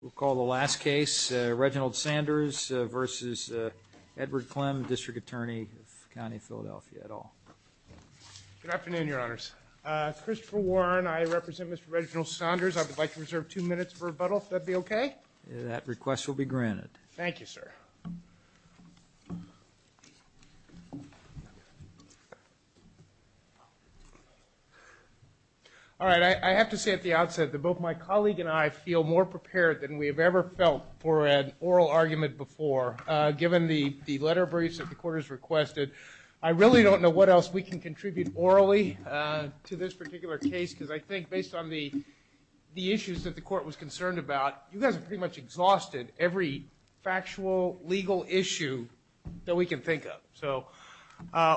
We'll call the last case, Reginald Sanders versus Edward Klem, District Attorney of the County of Philadelphia, et al. Good afternoon, Your Honors. Christopher Warren, I represent Mr. Reginald Sanders. I would like to reserve two minutes for rebuttal, if that would be okay. That request will be granted. Thank you, sir. All right, I have to say at the outset that both my colleague and I feel more prepared than we have ever felt for an oral argument before. Given the letter briefs that the Court has requested, I really don't know what else we can contribute orally to this particular case because I think based on the issues that the Court was concerned about, you guys have pretty much exhausted every factual legal issue that we can think of. So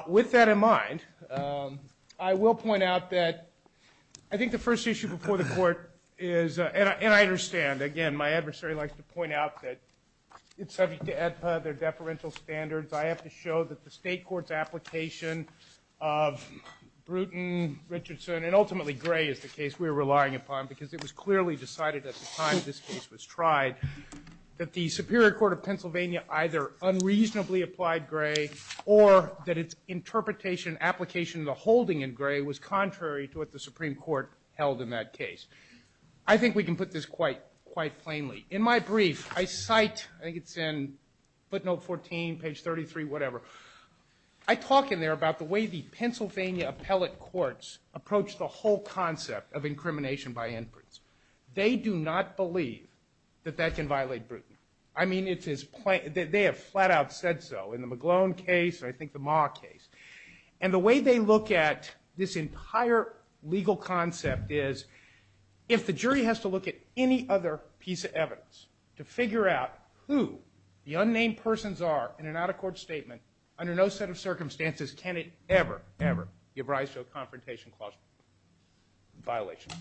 with that in mind, I will point out that I think the first issue before the Court is, and I understand, again, my adversary likes to point out that it's subject to AEDPA, their deferential standards. I have to show that the State Court's application of Bruton, Richardson, and ultimately Gray is the case we are relying upon because it was clearly decided at the time this case was tried that the Superior Court of Pennsylvania either unreasonably applied Gray or that its interpretation and application of the holding in Gray was contrary to what the Supreme Court held in that case. I think we can put this quite plainly. In my brief, I cite, I think it's in footnote 14, page 33, whatever. I talk in there about the way the Pennsylvania appellate courts approach the whole concept of incrimination by inference. They do not believe that that can violate Bruton. I mean, they have flat out said so in the McGlone case and I think the Ma case. And the way they look at this entire legal concept is if the jury has to look at any other piece of evidence to figure out who the unnamed persons are in an out-of-court statement, under no set of circumstances can it ever, ever give rise to a confrontation clause violation.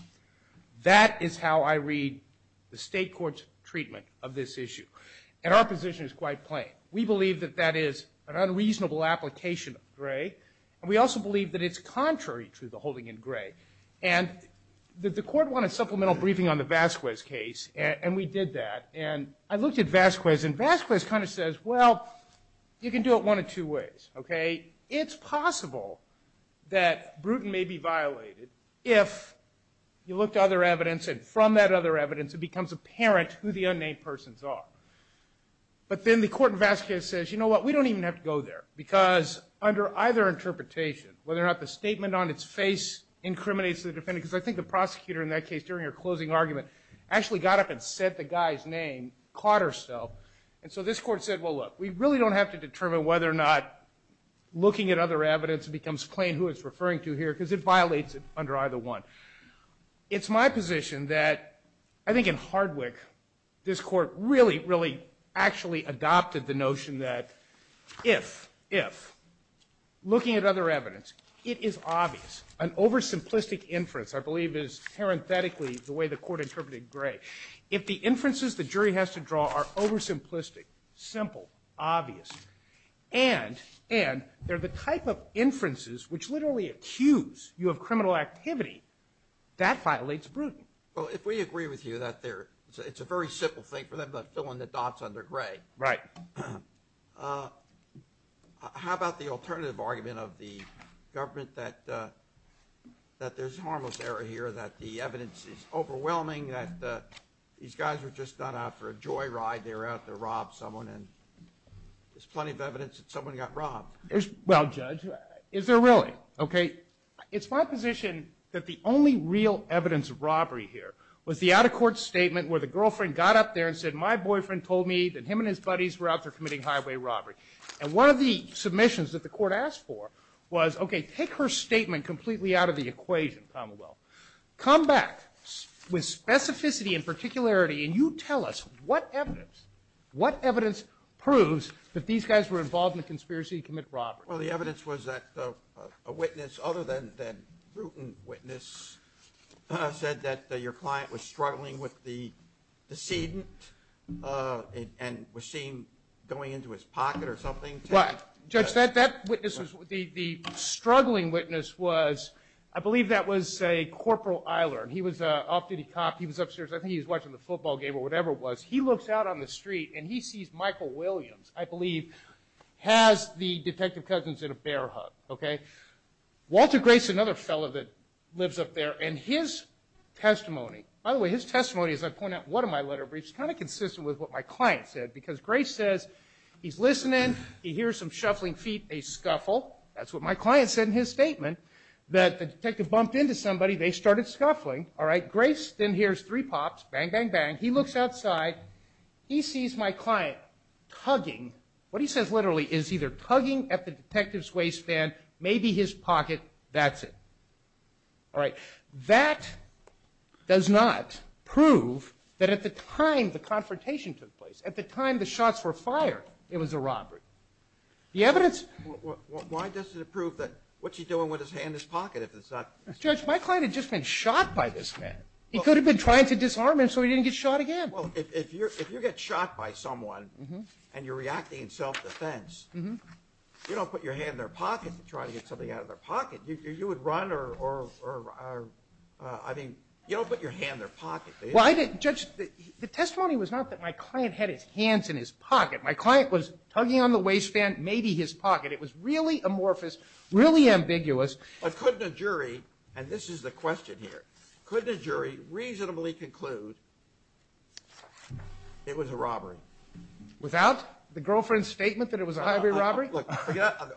That is how I read the state court's treatment of this issue. And our position is quite plain. We believe that that is an unreasonable application of Gray and we also believe that it's contrary to the holding in Gray. And the court wanted supplemental briefing on the Vasquez case and we did that. And I looked at Vasquez and Vasquez kind of says, well, you can do it one of two ways, okay? It's possible that Bruton may be violated if you look to other evidence and from that other evidence it becomes apparent who the unnamed persons are. But then the court in Vasquez says, you know what, we don't even have to go there because under either interpretation, whether or not the statement on its face incriminates the defendant, because I think the prosecutor in that case during her closing argument actually got up and said the guy's name, caught herself. And so this court said, well, look, we really don't have to determine whether or not looking at other evidence becomes plain who it's referring to here because it violates it under either one. It's my position that I think in Hardwick this court really, really actually adopted the notion that if, if, looking at other evidence, it is obvious, an oversimplistic inference, I believe is parenthetically the way the court interpreted Gray. If the inferences the jury has to draw are oversimplistic, simple, obvious, and they're the type of inferences which literally accuse you of criminal activity, that violates Bruton. Well, if we agree with you that it's a very simple thing for them to fill in the dots under Gray. Right. How about the alternative argument of the government that there's harmless error here, that the evidence is overwhelming, that these guys were just done out for a joyride. They were out to rob someone, and there's plenty of evidence that someone got robbed. Well, Judge, is there really? Okay. It's my position that the only real evidence of robbery here was the out-of-court statement where the girlfriend got up there and said, my boyfriend told me that him and his buddies were out there committing highway robbery. And one of the submissions that the court asked for was, okay, take her statement completely out of the equation, Commonwealth. Come back with specificity and particularity, and you tell us what evidence, what evidence proves that these guys were involved in the conspiracy to commit robbery. Well, the evidence was that a witness, other than Bruton's witness, said that your client was struggling with the decedent and was seen going into his pocket or something. Judge, that witness, the struggling witness was, I believe that was, say, Corporal Eiler. He was an off-duty cop. He was upstairs. I think he was watching the football game or whatever it was. He looks out on the street, and he sees Michael Williams, I believe, has the detective cousins in a bear hug. Walter Grace, another fellow that lives up there, and his testimony, by the way, his testimony, as I point out in one of my letter briefs, is kind of consistent with what my client said, because Grace says he's listening. He hears some shuffling feet, a scuffle. That's what my client said in his statement, that the detective bumped into somebody. They started scuffling. All right, Grace then hears three pops, bang, bang, bang. He looks outside. He sees my client tugging. What he says literally is either tugging at the detective's waistband, maybe his pocket, that's it. All right. That does not prove that at the time the confrontation took place, at the time the shots were fired, it was a robbery. The evidence. Why doesn't it prove that? What's he doing with his hand in his pocket if it's not? Judge, my client had just been shot by this man. He could have been trying to disarm him so he didn't get shot again. Well, if you get shot by someone and you're reacting in self-defense, you don't put your hand in their pocket to try to get something out of their pocket. You would run or, I mean, you don't put your hand in their pocket. Judge, the testimony was not that my client had his hands in his pocket. My client was tugging on the waistband, maybe his pocket. It was really amorphous, really ambiguous. But couldn't a jury, and this is the question here, couldn't a jury reasonably conclude it was a robbery? Without the girlfriend's statement that it was a highway robbery? Look,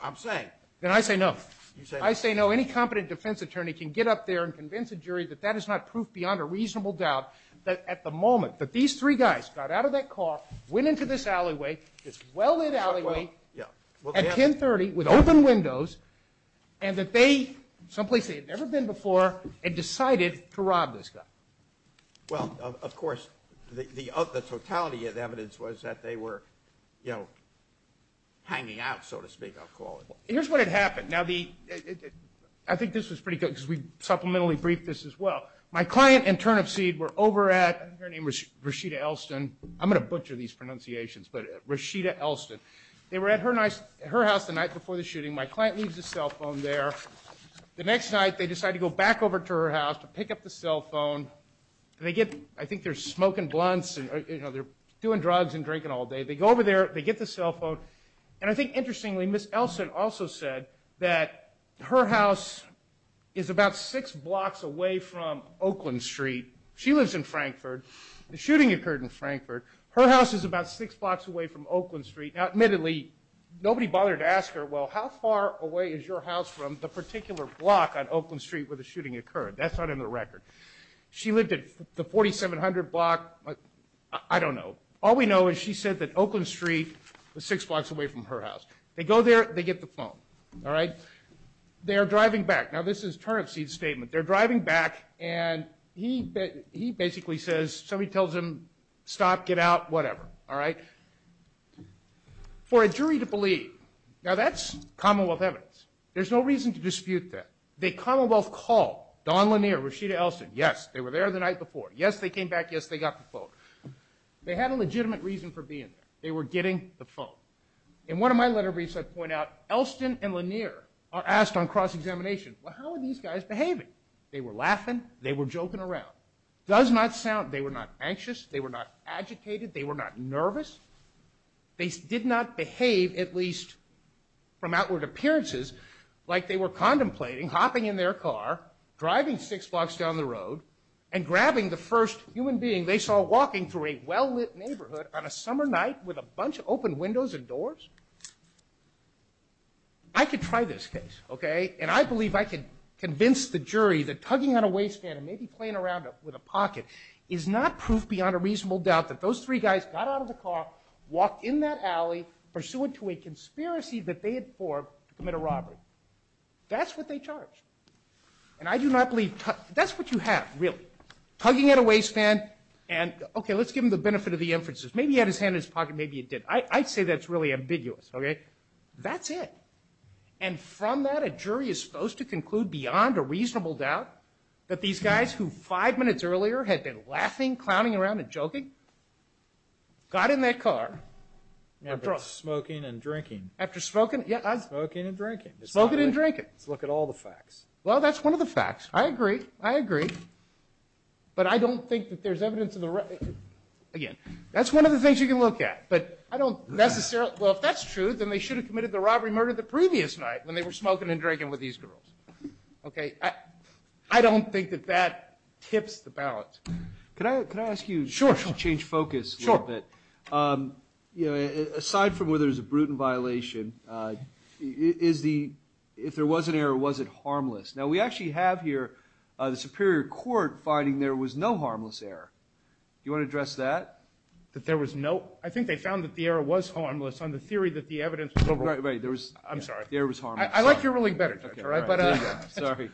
I'm saying. Then I say no. You say no. I say no. Any competent defense attorney can get up there and convince a jury that that is not proof beyond a reasonable doubt that at the moment that these three guys got out of that car, went into this alleyway, this well-lit alleyway at 1030 with open windows, and that they, someplace they had never been before, had decided to rob this guy. Well, of course, the totality of evidence was that they were, you know, hanging out, so to speak, I'll call it. Here's what had happened. Now, I think this was pretty good because we supplementally briefed this as well. My client and turnip seed were over at, her name was Rashida Elston. I'm going to butcher these pronunciations, but Rashida Elston. They were at her house the night before the shooting. My client leaves his cell phone there. The next night, they decide to go back over to her house to pick up the cell phone. They get, I think they're smoking blunts and, you know, they're doing drugs and drinking all day. They go over there. They get the cell phone, and I think, interestingly, Ms. Elston also said that her house is about six blocks away from Oakland Street. She lives in Frankfurt. The shooting occurred in Frankfurt. Her house is about six blocks away from Oakland Street. Now, admittedly, nobody bothered to ask her, well, how far away is your house from the particular block on Oakland Street where the shooting occurred? That's not in the record. She lived at the 4700 block. I don't know. All we know is she said that Oakland Street was six blocks away from her house. They go there. They get the phone, all right? They are driving back. Now, this is turnip seed's statement. whatever, all right? For a jury to believe, now, that's Commonwealth evidence. There's no reason to dispute that. The Commonwealth called Don Lanier, Rashida Elston. Yes, they were there the night before. Yes, they came back. Yes, they got the phone. They had a legitimate reason for being there. They were getting the phone. In one of my letter briefs I point out, Elston and Lanier are asked on cross-examination, well, how are these guys behaving? They were laughing. They were joking around. Does not sound, they were not anxious. They were not agitated. They were not nervous. They did not behave, at least from outward appearances, like they were contemplating, hopping in their car, driving six blocks down the road, and grabbing the first human being they saw walking through a well-lit neighborhood on a summer night with a bunch of open windows and doors. I could try this case, okay? And I believe I could convince the jury that tugging on a waistband and maybe playing around with a pocket is not proof beyond a reasonable doubt that those three guys got out of the car, walked in that alley, pursuant to a conspiracy that they had formed to commit a robbery. That's what they charged. And I do not believe tugging, that's what you have, really. Tugging at a waistband and, okay, let's give them the benefit of the inferences. Maybe he had his hand in his pocket, maybe he didn't. I'd say that's really ambiguous, okay? That's it. And from that a jury is supposed to conclude beyond a reasonable doubt that these guys who five minutes earlier had been laughing, clowning around, and joking, got in that car and drove. After smoking and drinking. After smoking, yeah. Smoking and drinking. Smoking and drinking. Let's look at all the facts. Well, that's one of the facts. I agree, I agree. But I don't think that there's evidence of the right. Again, that's one of the things you can look at. But I don't necessarily, well, if that's true, then they should have committed the robbery murder the previous night when they were smoking and drinking with these girls, okay? I don't think that that tips the balance. Can I ask you to change focus a little bit? Sure, sure. Aside from whether there's a brutal violation, if there was an error, was it harmless? Now, we actually have here the Superior Court finding there was no harmless error. Do you want to address that? That there was no? I think they found that the error was harmless on the theory that the evidence was overall. Right, right. The error was harmless. I like your ruling better, Judge, all right? Sorry.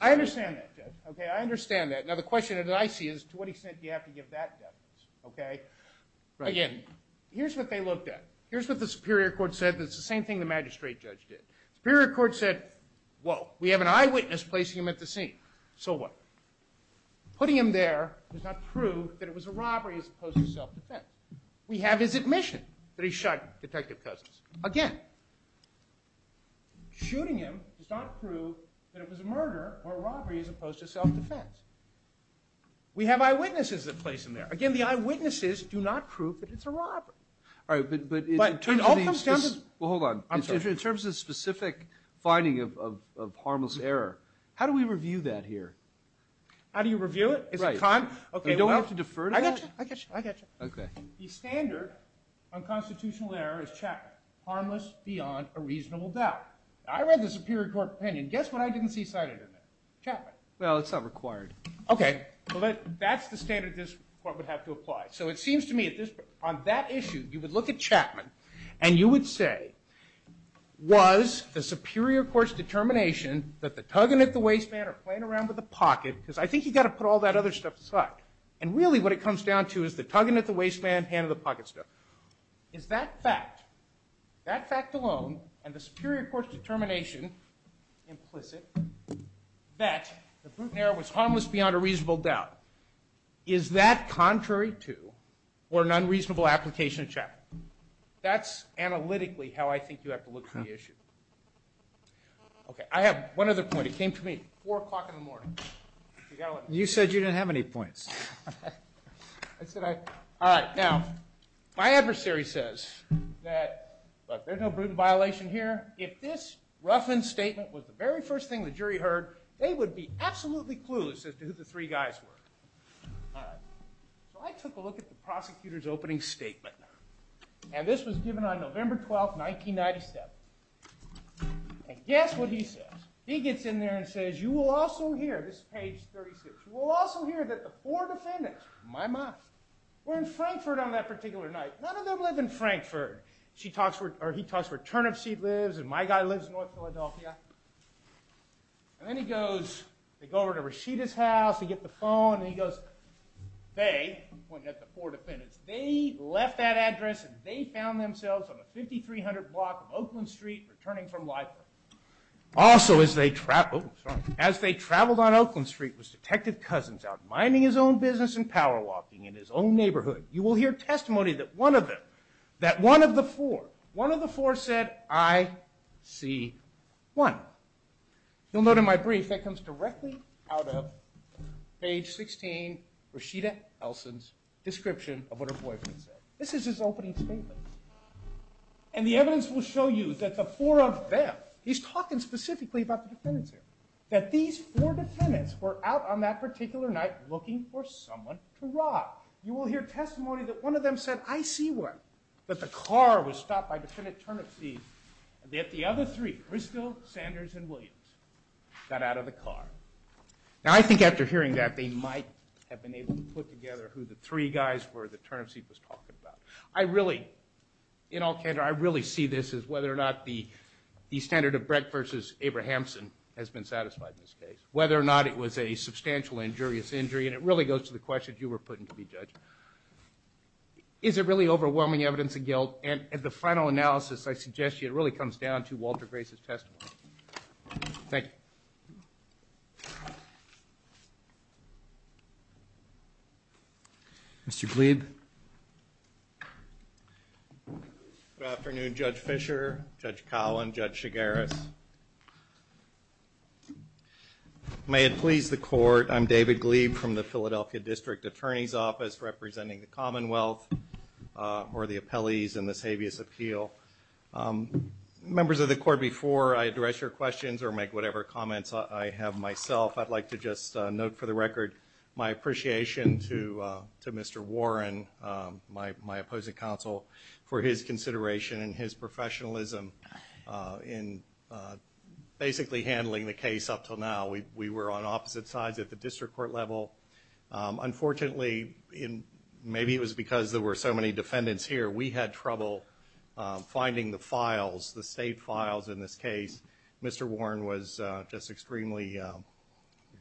I understand that, Judge, okay? I understand that. Now, the question that I see is to what extent do you have to give that definition, okay? Again, here's what they looked at. Here's what the Superior Court said. It's the same thing the magistrate judge did. The Superior Court said, whoa, we have an eyewitness placing him at the scene. So what? Putting him there does not prove that it was a robbery as opposed to self-defense. We have his admission that he shot Detective Cousins. Again, shooting him does not prove that it was a murder or a robbery as opposed to self-defense. We have eyewitnesses that place him there. Again, the eyewitnesses do not prove that it's a robbery. All right, but in terms of the specific finding of harmless error, how do we review that here? How do you review it? Right. We don't have to defer to that? I got you. I got you. Okay. The standard on constitutional error is Chapman, harmless beyond a reasonable doubt. I read the Superior Court opinion. Guess what I didn't see cited in there? Chapman. Well, it's not required. Okay. Well, that's the standard this Court would have to apply. So it seems to me on that issue you would look at Chapman and you would say, was the Superior Court's determination that the tugging at the waistband or playing around with the pocket, because I think you've got to put all that other stuff aside. And really what it comes down to is the tugging at the waistband, hand of the pocket stuff. Is that fact, that fact alone, and the Superior Court's determination, implicit, that the Bruton error was harmless beyond a reasonable doubt, is that contrary to or an unreasonable application of Chapman? That's analytically how I think you have to look at the issue. Okay. I have one other point. It came to me at 4 o'clock in the morning. You said you didn't have any points. All right. Now, my adversary says that there's no Bruton violation here. If this roughened statement was the very first thing the jury heard, they would be absolutely clueless as to who the three guys were. So I took a look at the prosecutor's opening statement, and this was given on November 12, 1997. And guess what he says. He gets in there and says, you will also hear, this is page 36, you will also hear that the four defendants, my mom, were in Frankfurt on that particular night. None of them live in Frankfurt. He talks where Turnipseed lives and my guy lives in North Philadelphia. And then he goes, they go over to Rashida's house, they get the phone, and he goes, they, pointing at the four defendants, they left that address and they found themselves on the 5300 block of Oakland Street returning from Lifer. Also, as they traveled on Oakland Street was Detective Cousins out minding his own business and power walking in his own neighborhood. You will hear testimony that one of them, that one of the four, one of the four said, I see one. You'll note in my brief, that comes directly out of page 16, Rashida Elson's description of what her boyfriend said. This is his opening statement. And the evidence will show you that the four of them, he's talking specifically about the defendants here, that these four defendants were out on that particular night looking for someone to rob. You will hear testimony that one of them said, I see one, but the car was stopped by defendant Turnipseed and that the other three, Crystal, Sanders, and Williams, got out of the car. Now I think after hearing that, they might have been able to put together who the three guys were that Turnipseed was talking about. I really, in all candor, I really see this as whether or not the standard of Brett versus Abrahamson has been satisfied in this case, whether or not it was a substantial injurious injury, and it really goes to the question you were putting to me, Judge. Is it really overwhelming evidence of guilt? And the final analysis I suggest to you, it really comes down to Walter Grace's testimony. Thank you. Mr. Glieb. Good afternoon, Judge Fischer, Judge Collin, Judge Shigaris. May it please the Court, I'm David Glieb from the Philadelphia District Attorney's Office representing the Commonwealth or the appellees in this habeas appeal. Members of the Court, before I address your questions or make whatever comments I have myself, I'd like to just note for the record my appreciation to Mr. Warren, my opposing counsel, for his consideration and his professionalism in basically handling the case up until now. We were on opposite sides at the district court level. Unfortunately, maybe it was because there were so many defendants here, we had trouble finding the files, the state files in this case. Mr. Warren was just extremely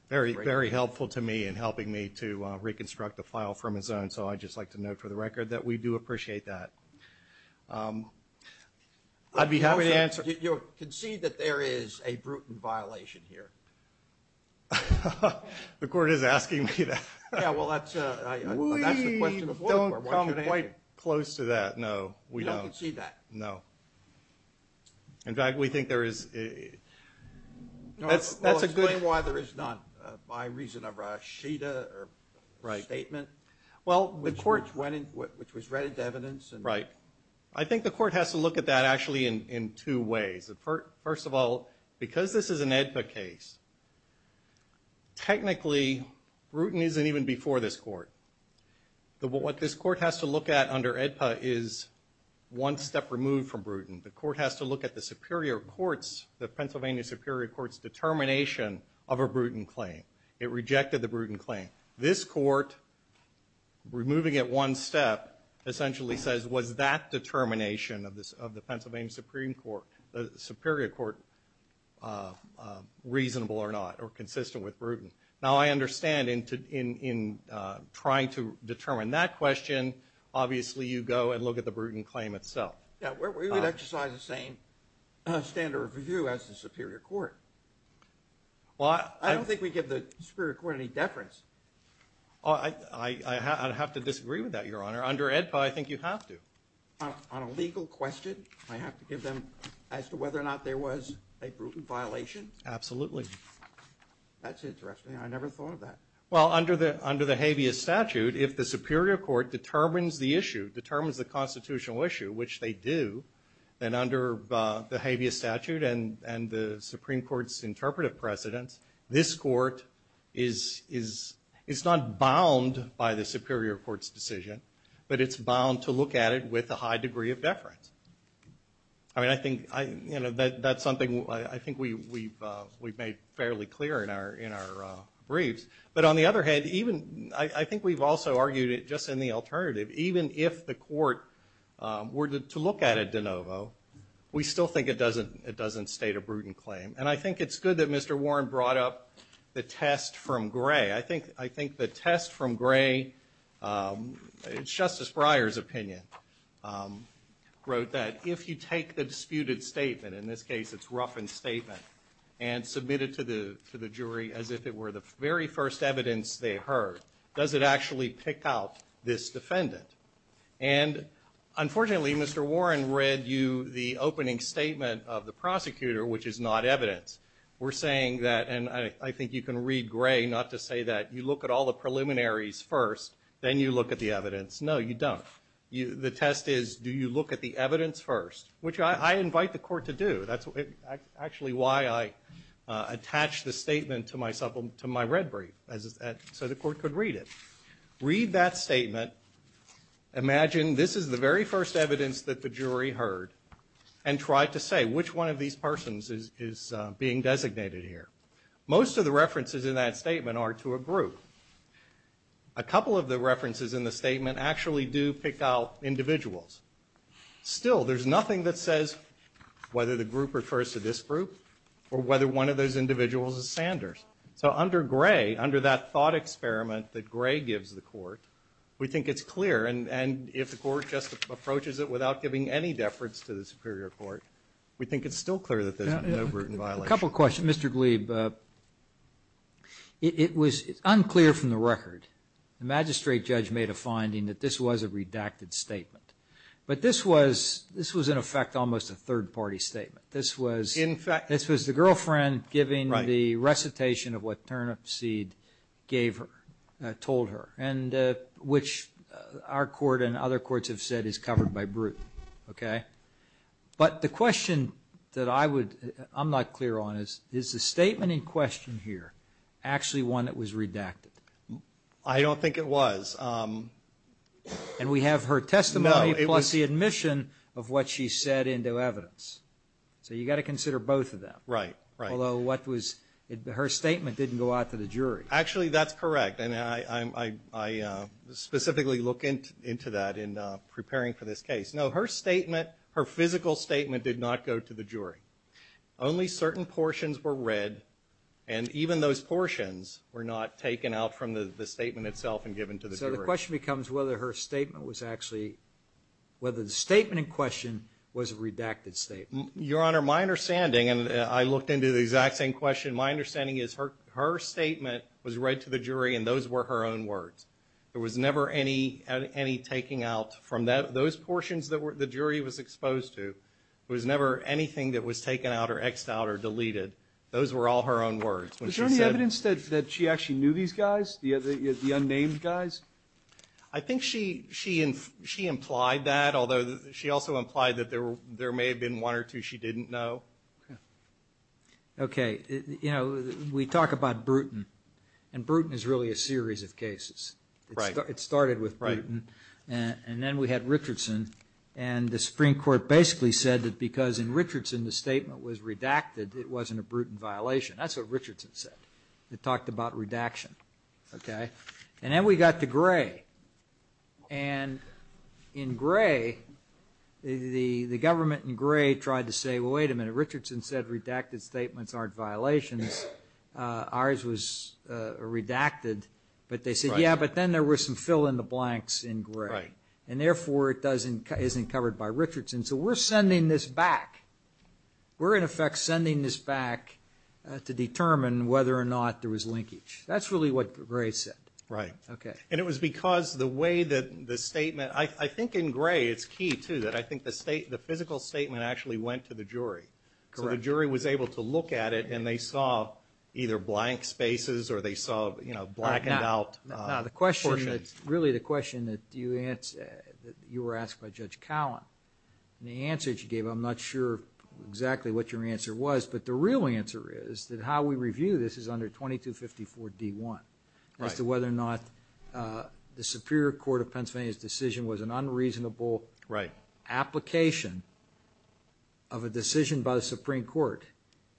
very helpful to me in helping me to reconstruct the file from his own, so I'd just like to note for the record that we do appreciate that. I'd be happy to answer. You concede that there is a brutal violation here. The Court is asking me that. Yeah, well, that's the question before the Court. We don't come quite close to that, no, we don't. You don't concede that. No. In fact, we think there is, that's a good. Explain why there is not, by reason of Rashida or statement. Right. Well, which was read into evidence. Right. I think the Court has to look at that actually in two ways. First of all, because this is an AEDPA case, technically, Bruton isn't even before this Court. What this Court has to look at under AEDPA is one step removed from Bruton. The Court has to look at the Superior Courts, the Pennsylvania Superior Courts determination of a Bruton claim. It rejected the Bruton claim. This Court, removing it one step, essentially says, was that determination of the Pennsylvania Superior Court reasonable or not or consistent with Bruton? Now, I understand in trying to determine that question, obviously you go and look at the Bruton claim itself. Yeah, we would exercise the same standard of review as the Superior Court. I don't think we give the Superior Court any deference. I'd have to disagree with that, Your Honor. Under AEDPA, I think you have to. On a legal question, I have to give them as to whether or not there was a Bruton violation? Absolutely. That's interesting. I never thought of that. Well, under the habeas statute, if the Superior Court determines the issue, determines the constitutional issue, which they do, then under the habeas statute and the Supreme Court's interpretive precedence, this Court is not bound by the Superior Court's decision, but it's bound to look at it with a high degree of deference. I mean, I think that's something I think we've made fairly clear in our briefs. But on the other hand, I think we've also argued it just in the alternative. Even if the Court were to look at it de novo, we still think it doesn't state a Bruton claim. And I think it's good that Mr. Warren brought up the test from Gray. I think the test from Gray, it's Justice Breyer's opinion, wrote that if you take the disputed statement, in this case it's Ruffin's statement, and submit it to the jury as if it were the very first evidence they heard, does it actually pick out this defendant? And unfortunately, Mr. Warren read you the opening statement of the prosecutor, which is not evidence. We're saying that, and I think you can read Gray not to say that you look at all the preliminaries first, then you look at the evidence. No, you don't. The test is do you look at the evidence first, which I invite the Court to do. That's actually why I attach the statement to my red brief, so the Court could read it. Imagine this is the very first evidence that the jury heard and tried to say which one of these persons is being designated here. Most of the references in that statement are to a group. A couple of the references in the statement actually do pick out individuals. Still, there's nothing that says whether the group refers to this group or whether one of those individuals is Sanders. So under Gray, under that thought experiment that Gray gives the Court, we think it's clear, and if the Court just approaches it without giving any deference to the Superior Court, we think it's still clear that there's no root in violation. A couple of questions. Mr. Glieb, it was unclear from the record. The magistrate judge made a finding that this was a redacted statement. But this was, in effect, almost a third-party statement. This was the girlfriend giving the recitation of what Turnipseed gave her, told her, and which our Court and other courts have said is covered by brute, okay? But the question that I'm not clear on is, is the statement in question here actually one that was redacted? I don't think it was. And we have her testimony plus the admission of what she said into evidence. So you've got to consider both of them. Right, right. Although what was her statement didn't go out to the jury. Actually, that's correct, and I specifically look into that in preparing for this case. No, her statement, her physical statement did not go to the jury. Only certain portions were read, and even those portions were not taken out from the statement itself and given to the jury. So the question becomes whether her statement was actually, whether the statement in question was a redacted statement. Your Honor, my understanding, and I looked into the exact same question, my understanding is her statement was read to the jury, and those were her own words. There was never any taking out from those portions that the jury was exposed to. There was never anything that was taken out or X'd out or deleted. Those were all her own words. Was there any evidence that she actually knew these guys, the unnamed guys? I think she implied that, although she also implied that there may have been one or two she didn't know. Okay. You know, we talk about Bruton, and Bruton is really a series of cases. It started with Bruton, and then we had Richardson, and the Supreme Court basically said that because in Richardson the statement was redacted, it wasn't a Bruton violation. That's what Richardson said. It talked about redaction. And then we got to Gray, and in Gray, the government in Gray tried to say, well, wait a minute, Richardson said redacted statements aren't violations. Ours was redacted. But they said, yeah, but then there were some fill-in-the-blanks in Gray, and therefore it isn't covered by Richardson. So we're sending this back. We're, in effect, sending this back to determine whether or not there was linkage. That's really what Gray said. Right. Okay. And it was because the way that the statement, I think in Gray it's key, too, that I think the physical statement actually went to the jury. Correct. So the jury was able to look at it, and they saw either blank spaces or they saw blackened out portions. Now, the question, really the question that you were asked by Judge Cowan, and the answer that you gave, I'm not sure exactly what your answer was, but the real answer is that how we review this is under 2254D1 as to whether or not the Superior Court of Pennsylvania's decision was an unreasonable application of a decision by the Supreme Court.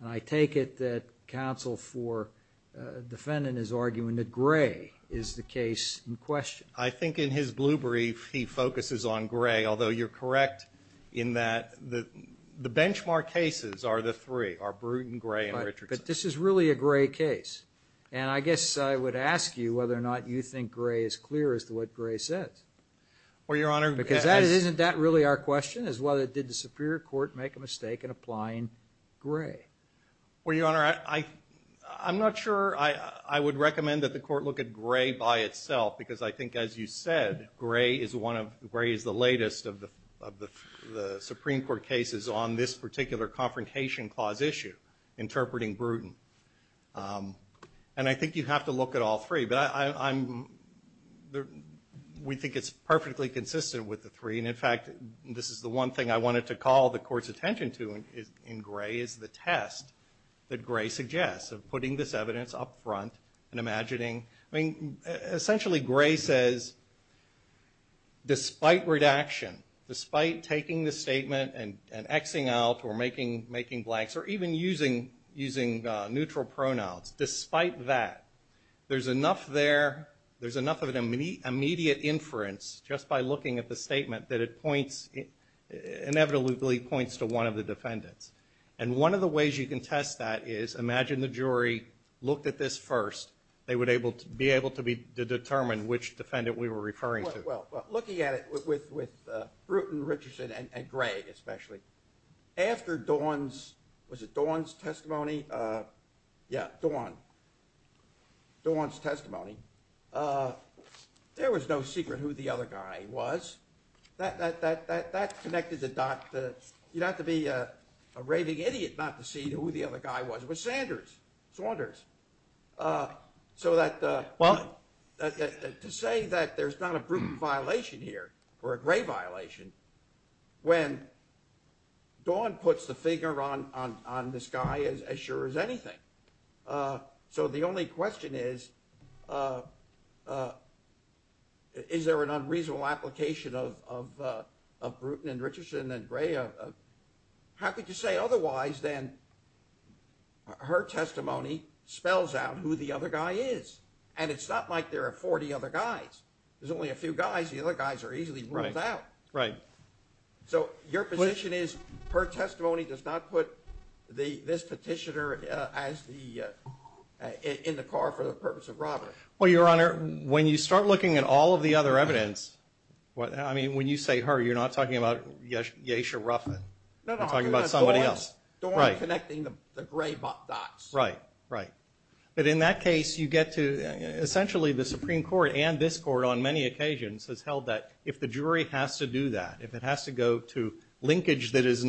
And I take it that counsel for defendant is arguing that Gray is the case in question. I think in his blue brief he focuses on Gray, although you're correct in that the benchmark cases are the three, are Brewton, Gray, and Richardson. But this is really a Gray case. And I guess I would ask you whether or not you think Gray is clear as to what Gray says. Well, Your Honor, that's… Because isn't that really our question, is whether did the Superior Court make a mistake in applying Gray? Well, Your Honor, I'm not sure I would recommend that the court look at Gray by itself, because I think, as you said, Gray is the latest of the Supreme Court cases on this particular Confrontation Clause issue, interpreting Brewton. And I think you'd have to look at all three, but we think it's perfectly consistent with the three. And, in fact, this is the one thing I wanted to call the court's attention to in Gray, is the test that Gray suggests of putting this evidence up front and imagining. I mean, essentially Gray says, despite redaction, despite taking the statement and X-ing out or making blanks, or even using neutral pronouns, despite that, there's enough there, there's enough of an immediate inference just by looking at the statement that it points, inevitably points to one of the defendants. And one of the ways you can test that is, imagine the jury looked at this first. They would be able to determine which defendant we were referring to. Well, looking at it with Brewton, Richardson, and Gray especially, after Dawn's, was it Dawn's testimony? Yeah, Dawn, Dawn's testimony, there was no secret who the other guy was. That connected the dots. You'd have to be a raving idiot not to see who the other guy was. It was Sanders, Saunders. So to say that there's not a Brewton violation here, or a Gray violation, when Dawn puts the finger on this guy as sure as anything. So the only question is, is there an unreasonable application of Brewton and Richardson and Gray? How could you say otherwise than her testimony spells out who the other guy is? And it's not like there are 40 other guys. There's only a few guys. The other guys are easily ruled out. Right. So your position is her testimony does not put this petitioner in the car for the purpose of robbery. Well, Your Honor, when you start looking at all of the other evidence, I mean, when you say her, you're not talking about Yesha Ruffin. No, no. You're talking about somebody else. Dawn connecting the Gray dots. Right, right. But in that case, you get to, essentially, the Supreme Court and this Court on many occasions has held that if the jury has to do that, if it has to go to linkage that does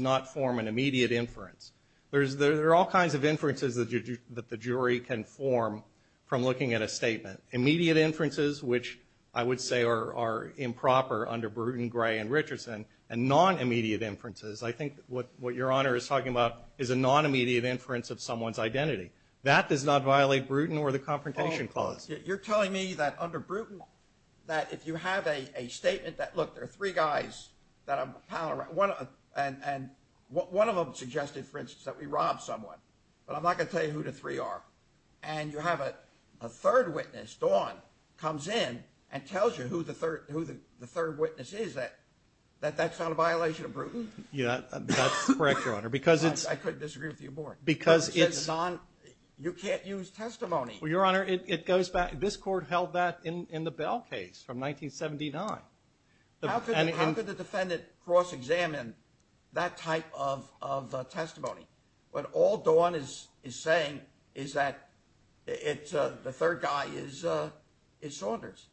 not form an immediate inference, there are all kinds of inferences that the jury can form from looking at a statement. Immediate inferences, which I would say are improper under Brewton, Gray, and Richardson, and non-immediate inferences. I think what Your Honor is talking about is a non-immediate inference of someone's identity. That does not violate Brewton or the Confrontation Clause. You're telling me that under Brewton that if you have a statement that, look, there are three guys that I'm pallorizing. And one of them suggested, for instance, that we robbed someone. But I'm not going to tell you who the three are. And you have a third witness, Dawn, comes in and tells you who the third witness is, that that's not a violation of Brewton? Yeah, that's correct, Your Honor. I couldn't disagree with you more. Because it's... You can't use testimony. Well, Your Honor, it goes back. This Court held that in the Bell case from 1979. How could the defendant cross-examine that type of testimony? What all Dawn is saying is that the third guy is Saunders.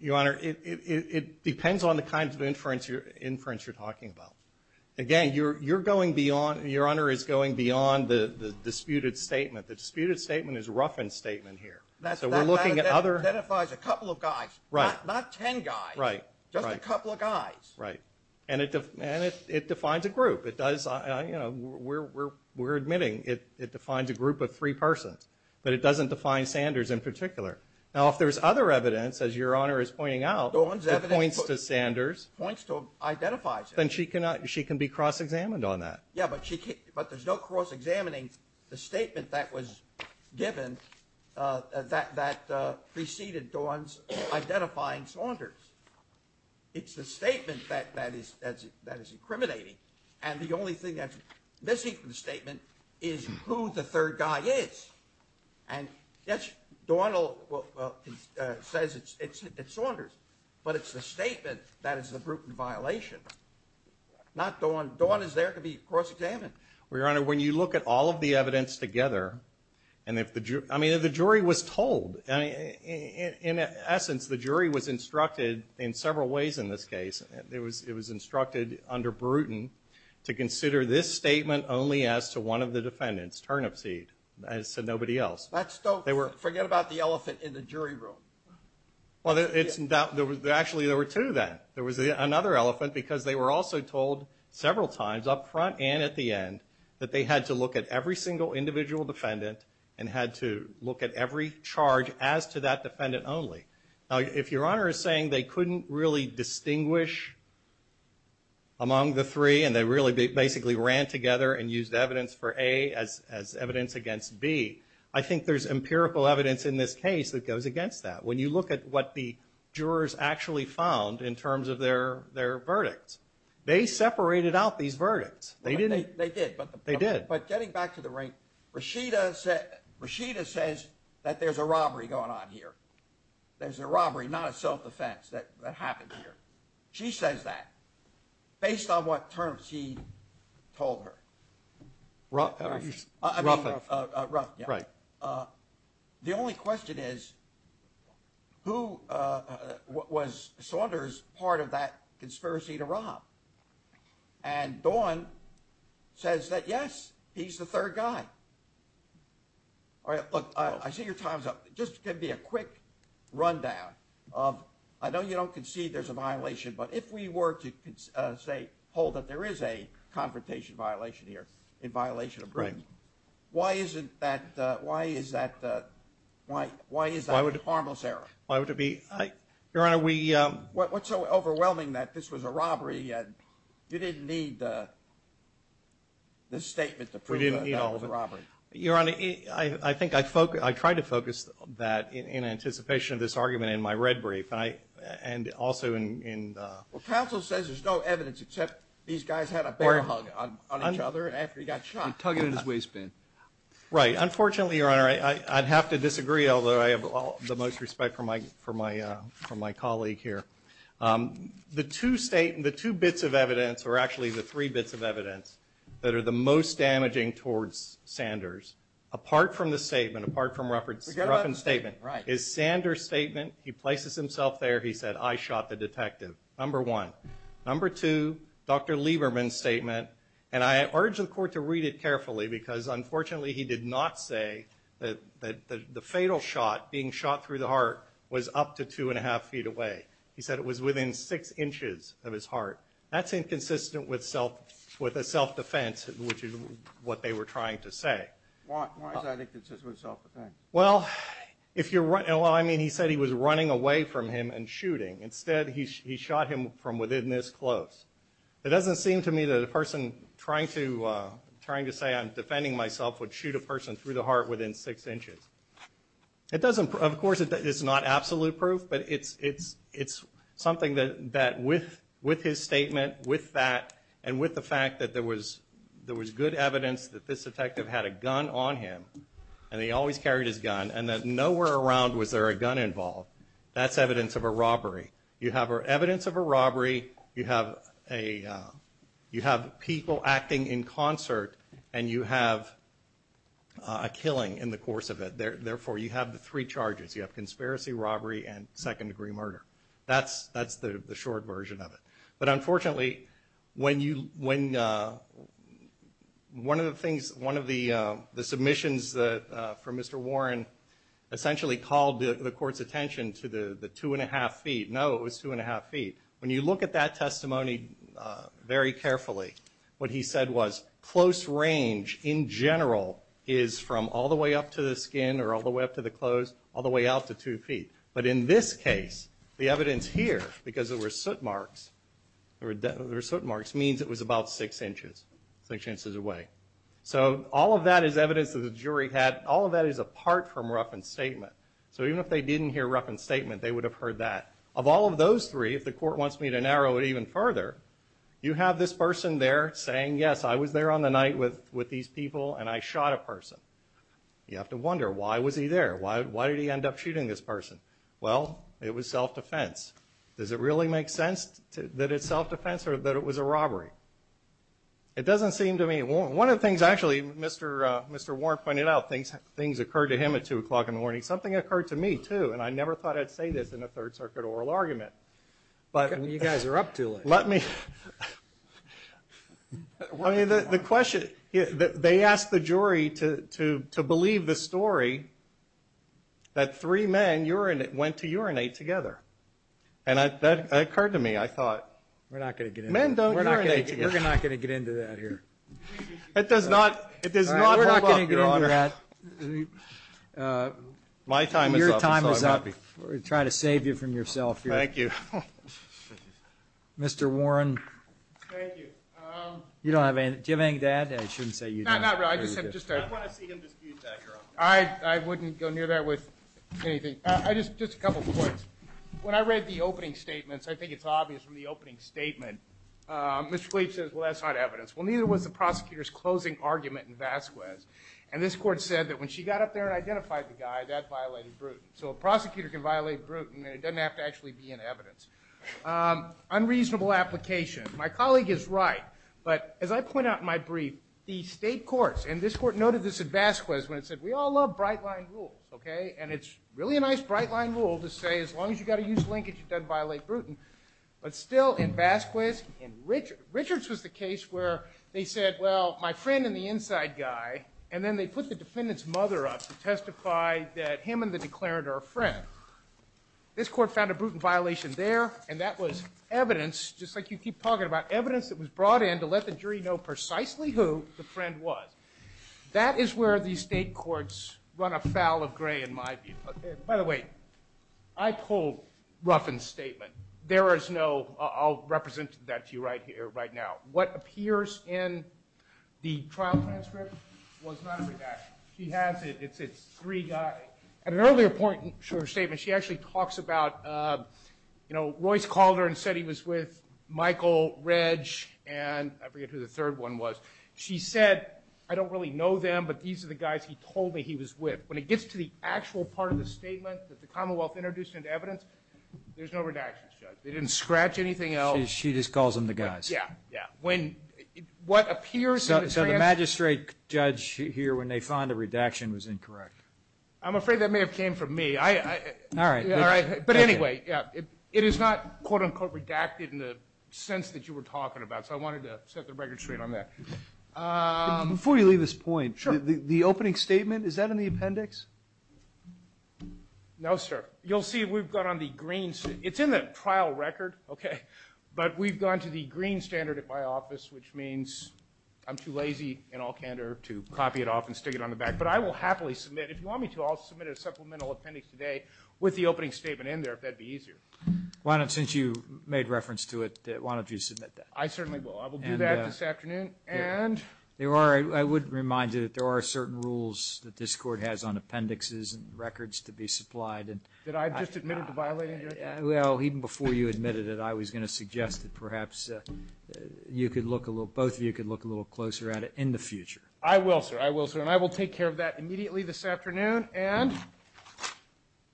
Your Honor, it depends on the kinds of inference you're talking about. Again, Your Honor is going beyond the disputed statement. The disputed statement is Ruffin's statement here. So we're looking at other... That identifies a couple of guys, not ten guys, just a couple of guys. Right. And it defines a group. It does, you know, we're admitting it defines a group of three persons. But it doesn't define Sanders in particular. Now, if there's other evidence, as Your Honor is pointing out... Dawn's evidence... ...that points to Sanders... ...points to or identifies Sanders... ...then she can be cross-examined on that. Yeah, but there's no cross-examining the statement that was given that preceded Dawn's identifying Saunders. It's the statement that is incriminating. And the only thing that's missing from the statement is who the third guy is. And yes, Dawn says it's Saunders. But it's the statement that is the proven violation. Dawn is there to be cross-examined. Well, Your Honor, when you look at all of the evidence together... I mean, if the jury was told. In essence, the jury was instructed in several ways in this case. It was instructed under Bruton to consider this statement only as to one of the defendants, Turnipseed. I said nobody else. Forget about the elephant in the jury room. Well, actually, there were two then. There was another elephant because they were also told several times up front and at the end... that they had to look at every single individual defendant and had to look at every charge as to that defendant only. Now, if Your Honor is saying they couldn't really distinguish among the three and they really basically ran together and used evidence for A as evidence against B, I think there's empirical evidence in this case that goes against that. When you look at what the jurors actually found in terms of their verdicts, they separated out these verdicts. They did. They did. But getting back to the ring, Rashida says that there's a robbery going on here. There's a robbery, not a self-defense that happened here. She says that based on what Turnipseed told her. Ruffing. Ruffing, yeah. Right. The only question is who was Saunders' part of that conspiracy to rob? And Dawn says that, yes, he's the third guy. All right. Look, I see your time's up. Just give me a quick rundown of I know you don't concede there's a violation, but if we were to hold that there is a confrontation violation here in violation of Britain, why is that harmless error? Why would it be? Your Honor, we What's so overwhelming that this was a robbery? You didn't need this statement to prove that that was a robbery. Your Honor, I think I tried to focus that in anticipation of this argument in my red brief and also in Well, counsel says there's no evidence except these guys had a bear hug on each other after he got shot. Tugging at his waistband. Right. Unfortunately, Your Honor, I'd have to disagree, although I have the most respect for my colleague here. The two bits of evidence or actually the three bits of evidence that are the most damaging towards Saunders, apart from the statement, apart from Ruffin's statement, is Saunders' statement. He places himself there. He said, I shot the detective, number one. Number two, Dr. Lieberman's statement. And I urge the court to read it carefully because, unfortunately, he did not say that the fatal shot, being shot through the heart, was up to two and a half feet away. He said it was within six inches of his heart. That's inconsistent with a self-defense, which is what they were trying to say. Why is that inconsistent with self-defense? Well, I mean, he said he was running away from him and shooting. Instead, he shot him from within this close. It doesn't seem to me that a person trying to say, I'm defending myself, would shoot a person through the heart within six inches. Of course, it's not absolute proof, but it's something that with his statement, with that, and with the fact that there was good evidence that this detective had a gun on him and he always carried his gun and that nowhere around was there a gun involved, that's evidence of a robbery. You have evidence of a robbery, you have people acting in concert, and you have a killing in the course of it. Therefore, you have the three charges. You have conspiracy, robbery, and second-degree murder. That's the short version of it. But unfortunately, one of the things, one of the submissions from Mr. Warren essentially called the court's attention to the two-and-a-half feet. No, it was two-and-a-half feet. When you look at that testimony very carefully, what he said was, close range in general is from all the way up to the skin or all the way up to the clothes, all the way out to two feet. But in this case, the evidence here, because there were soot marks, means it was about six inches, six inches away. So all of that is evidence that the jury had. All of that is apart from Ruffin's statement. So even if they didn't hear Ruffin's statement, they would have heard that. Of all of those three, if the court wants me to narrow it even further, you have this person there saying, yes, I was there on the night with these people and I shot a person. You have to wonder, why was he there? Why did he end up shooting this person? Well, it was self-defense. Does it really make sense that it's self-defense or that it was a robbery? It doesn't seem to me. One of the things, actually, Mr. Warren pointed out, things occurred to him at 2 o'clock in the morning. Something occurred to me, too, and I never thought I'd say this in a Third Circuit oral argument. You guys are up too late. Let me. I mean, the question. They asked the jury to believe the story that three men went to urinate together. And that occurred to me. I thought, men don't urinate together. We're not going to get into that here. It does not hold up, Your Honor. We're not going to get into that. My time is up. Your time is up. We're trying to save you from yourself here. Thank you. Mr. Warren. Thank you. Do you have anything to add? I shouldn't say you do. Not really. I just wanted to see him dispute that, Your Honor. I wouldn't go near that with anything. Just a couple points. When I read the opening statements, I think it's obvious from the opening statement, Mr. Kleeb says, well, that's not evidence. Well, neither was the prosecutor's closing argument in Vasquez. And this court said that when she got up there and identified the guy, that violated Bruton. So a prosecutor can violate Bruton, and it doesn't have to actually be in evidence. Unreasonable application. My colleague is right. But as I point out in my brief, the state courts, and this court noted this in Vasquez when it said, we all love bright-line rules, okay? And it's really a nice bright-line rule to say as long as you've got to use linkage, it doesn't violate Bruton. But still, in Vasquez, in Richards, Richards was the case where they said, well, my friend in the inside guy, and then they put the defendant's mother up to testify that him and the declarant are a friend. This court found a Bruton violation there, and that was evidence, just like you keep talking about, evidence that was brought in to let the jury know precisely who the friend was. That is where the state courts run afoul of Gray, in my view. By the way, I pulled Ruffin's statement. There is no, I'll represent that to you right now. What appears in the trial transcript was not a redaction. She has it. It's three guys. At an earlier point in her statement, she actually talks about, you know, Royce called her and said he was with Michael, Reg, and I forget who the third one was. She said, I don't really know them, but these are the guys he told me he was with. When it gets to the actual part of the statement that the Commonwealth introduced into evidence, there's no redactions, Judge. They didn't scratch anything else. She just calls them the guys. Yeah, yeah. When what appears in the transcript. So the magistrate judge here, when they found a redaction, was incorrect. I'm afraid that may have came from me. All right. But anyway, yeah, it is not, quote, unquote, redacted in the sense that you were talking about, so I wanted to set the record straight on that. Before you leave this point, the opening statement, is that in the appendix? No, sir. You'll see we've gone on the green. It's in the trial record, okay, but we've gone to the green standard at my office, which means I'm too lazy in all candor to copy it off and stick it on the back. But I will happily submit, if you want me to, I'll submit a supplemental appendix today with the opening statement in there, if that would be easier. Why not, since you made reference to it, why don't you submit that? I certainly will. I will do that this afternoon. I would remind you that there are certain rules that this Court has on appendixes and records to be supplied. Did I just admit it to violate anything? Well, even before you admitted it, I was going to suggest that perhaps you could look a little, both of you could look a little closer at it in the future. I will, sir. I will, sir. And I will take care of that immediately this afternoon. And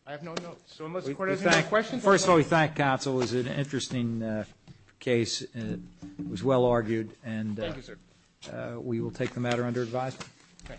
I have no notes. So unless the Court has any more questions. First of all, we thank counsel. It was an interesting case. It was well argued. Thank you, sir. And we will take the matter under advisement. Okay.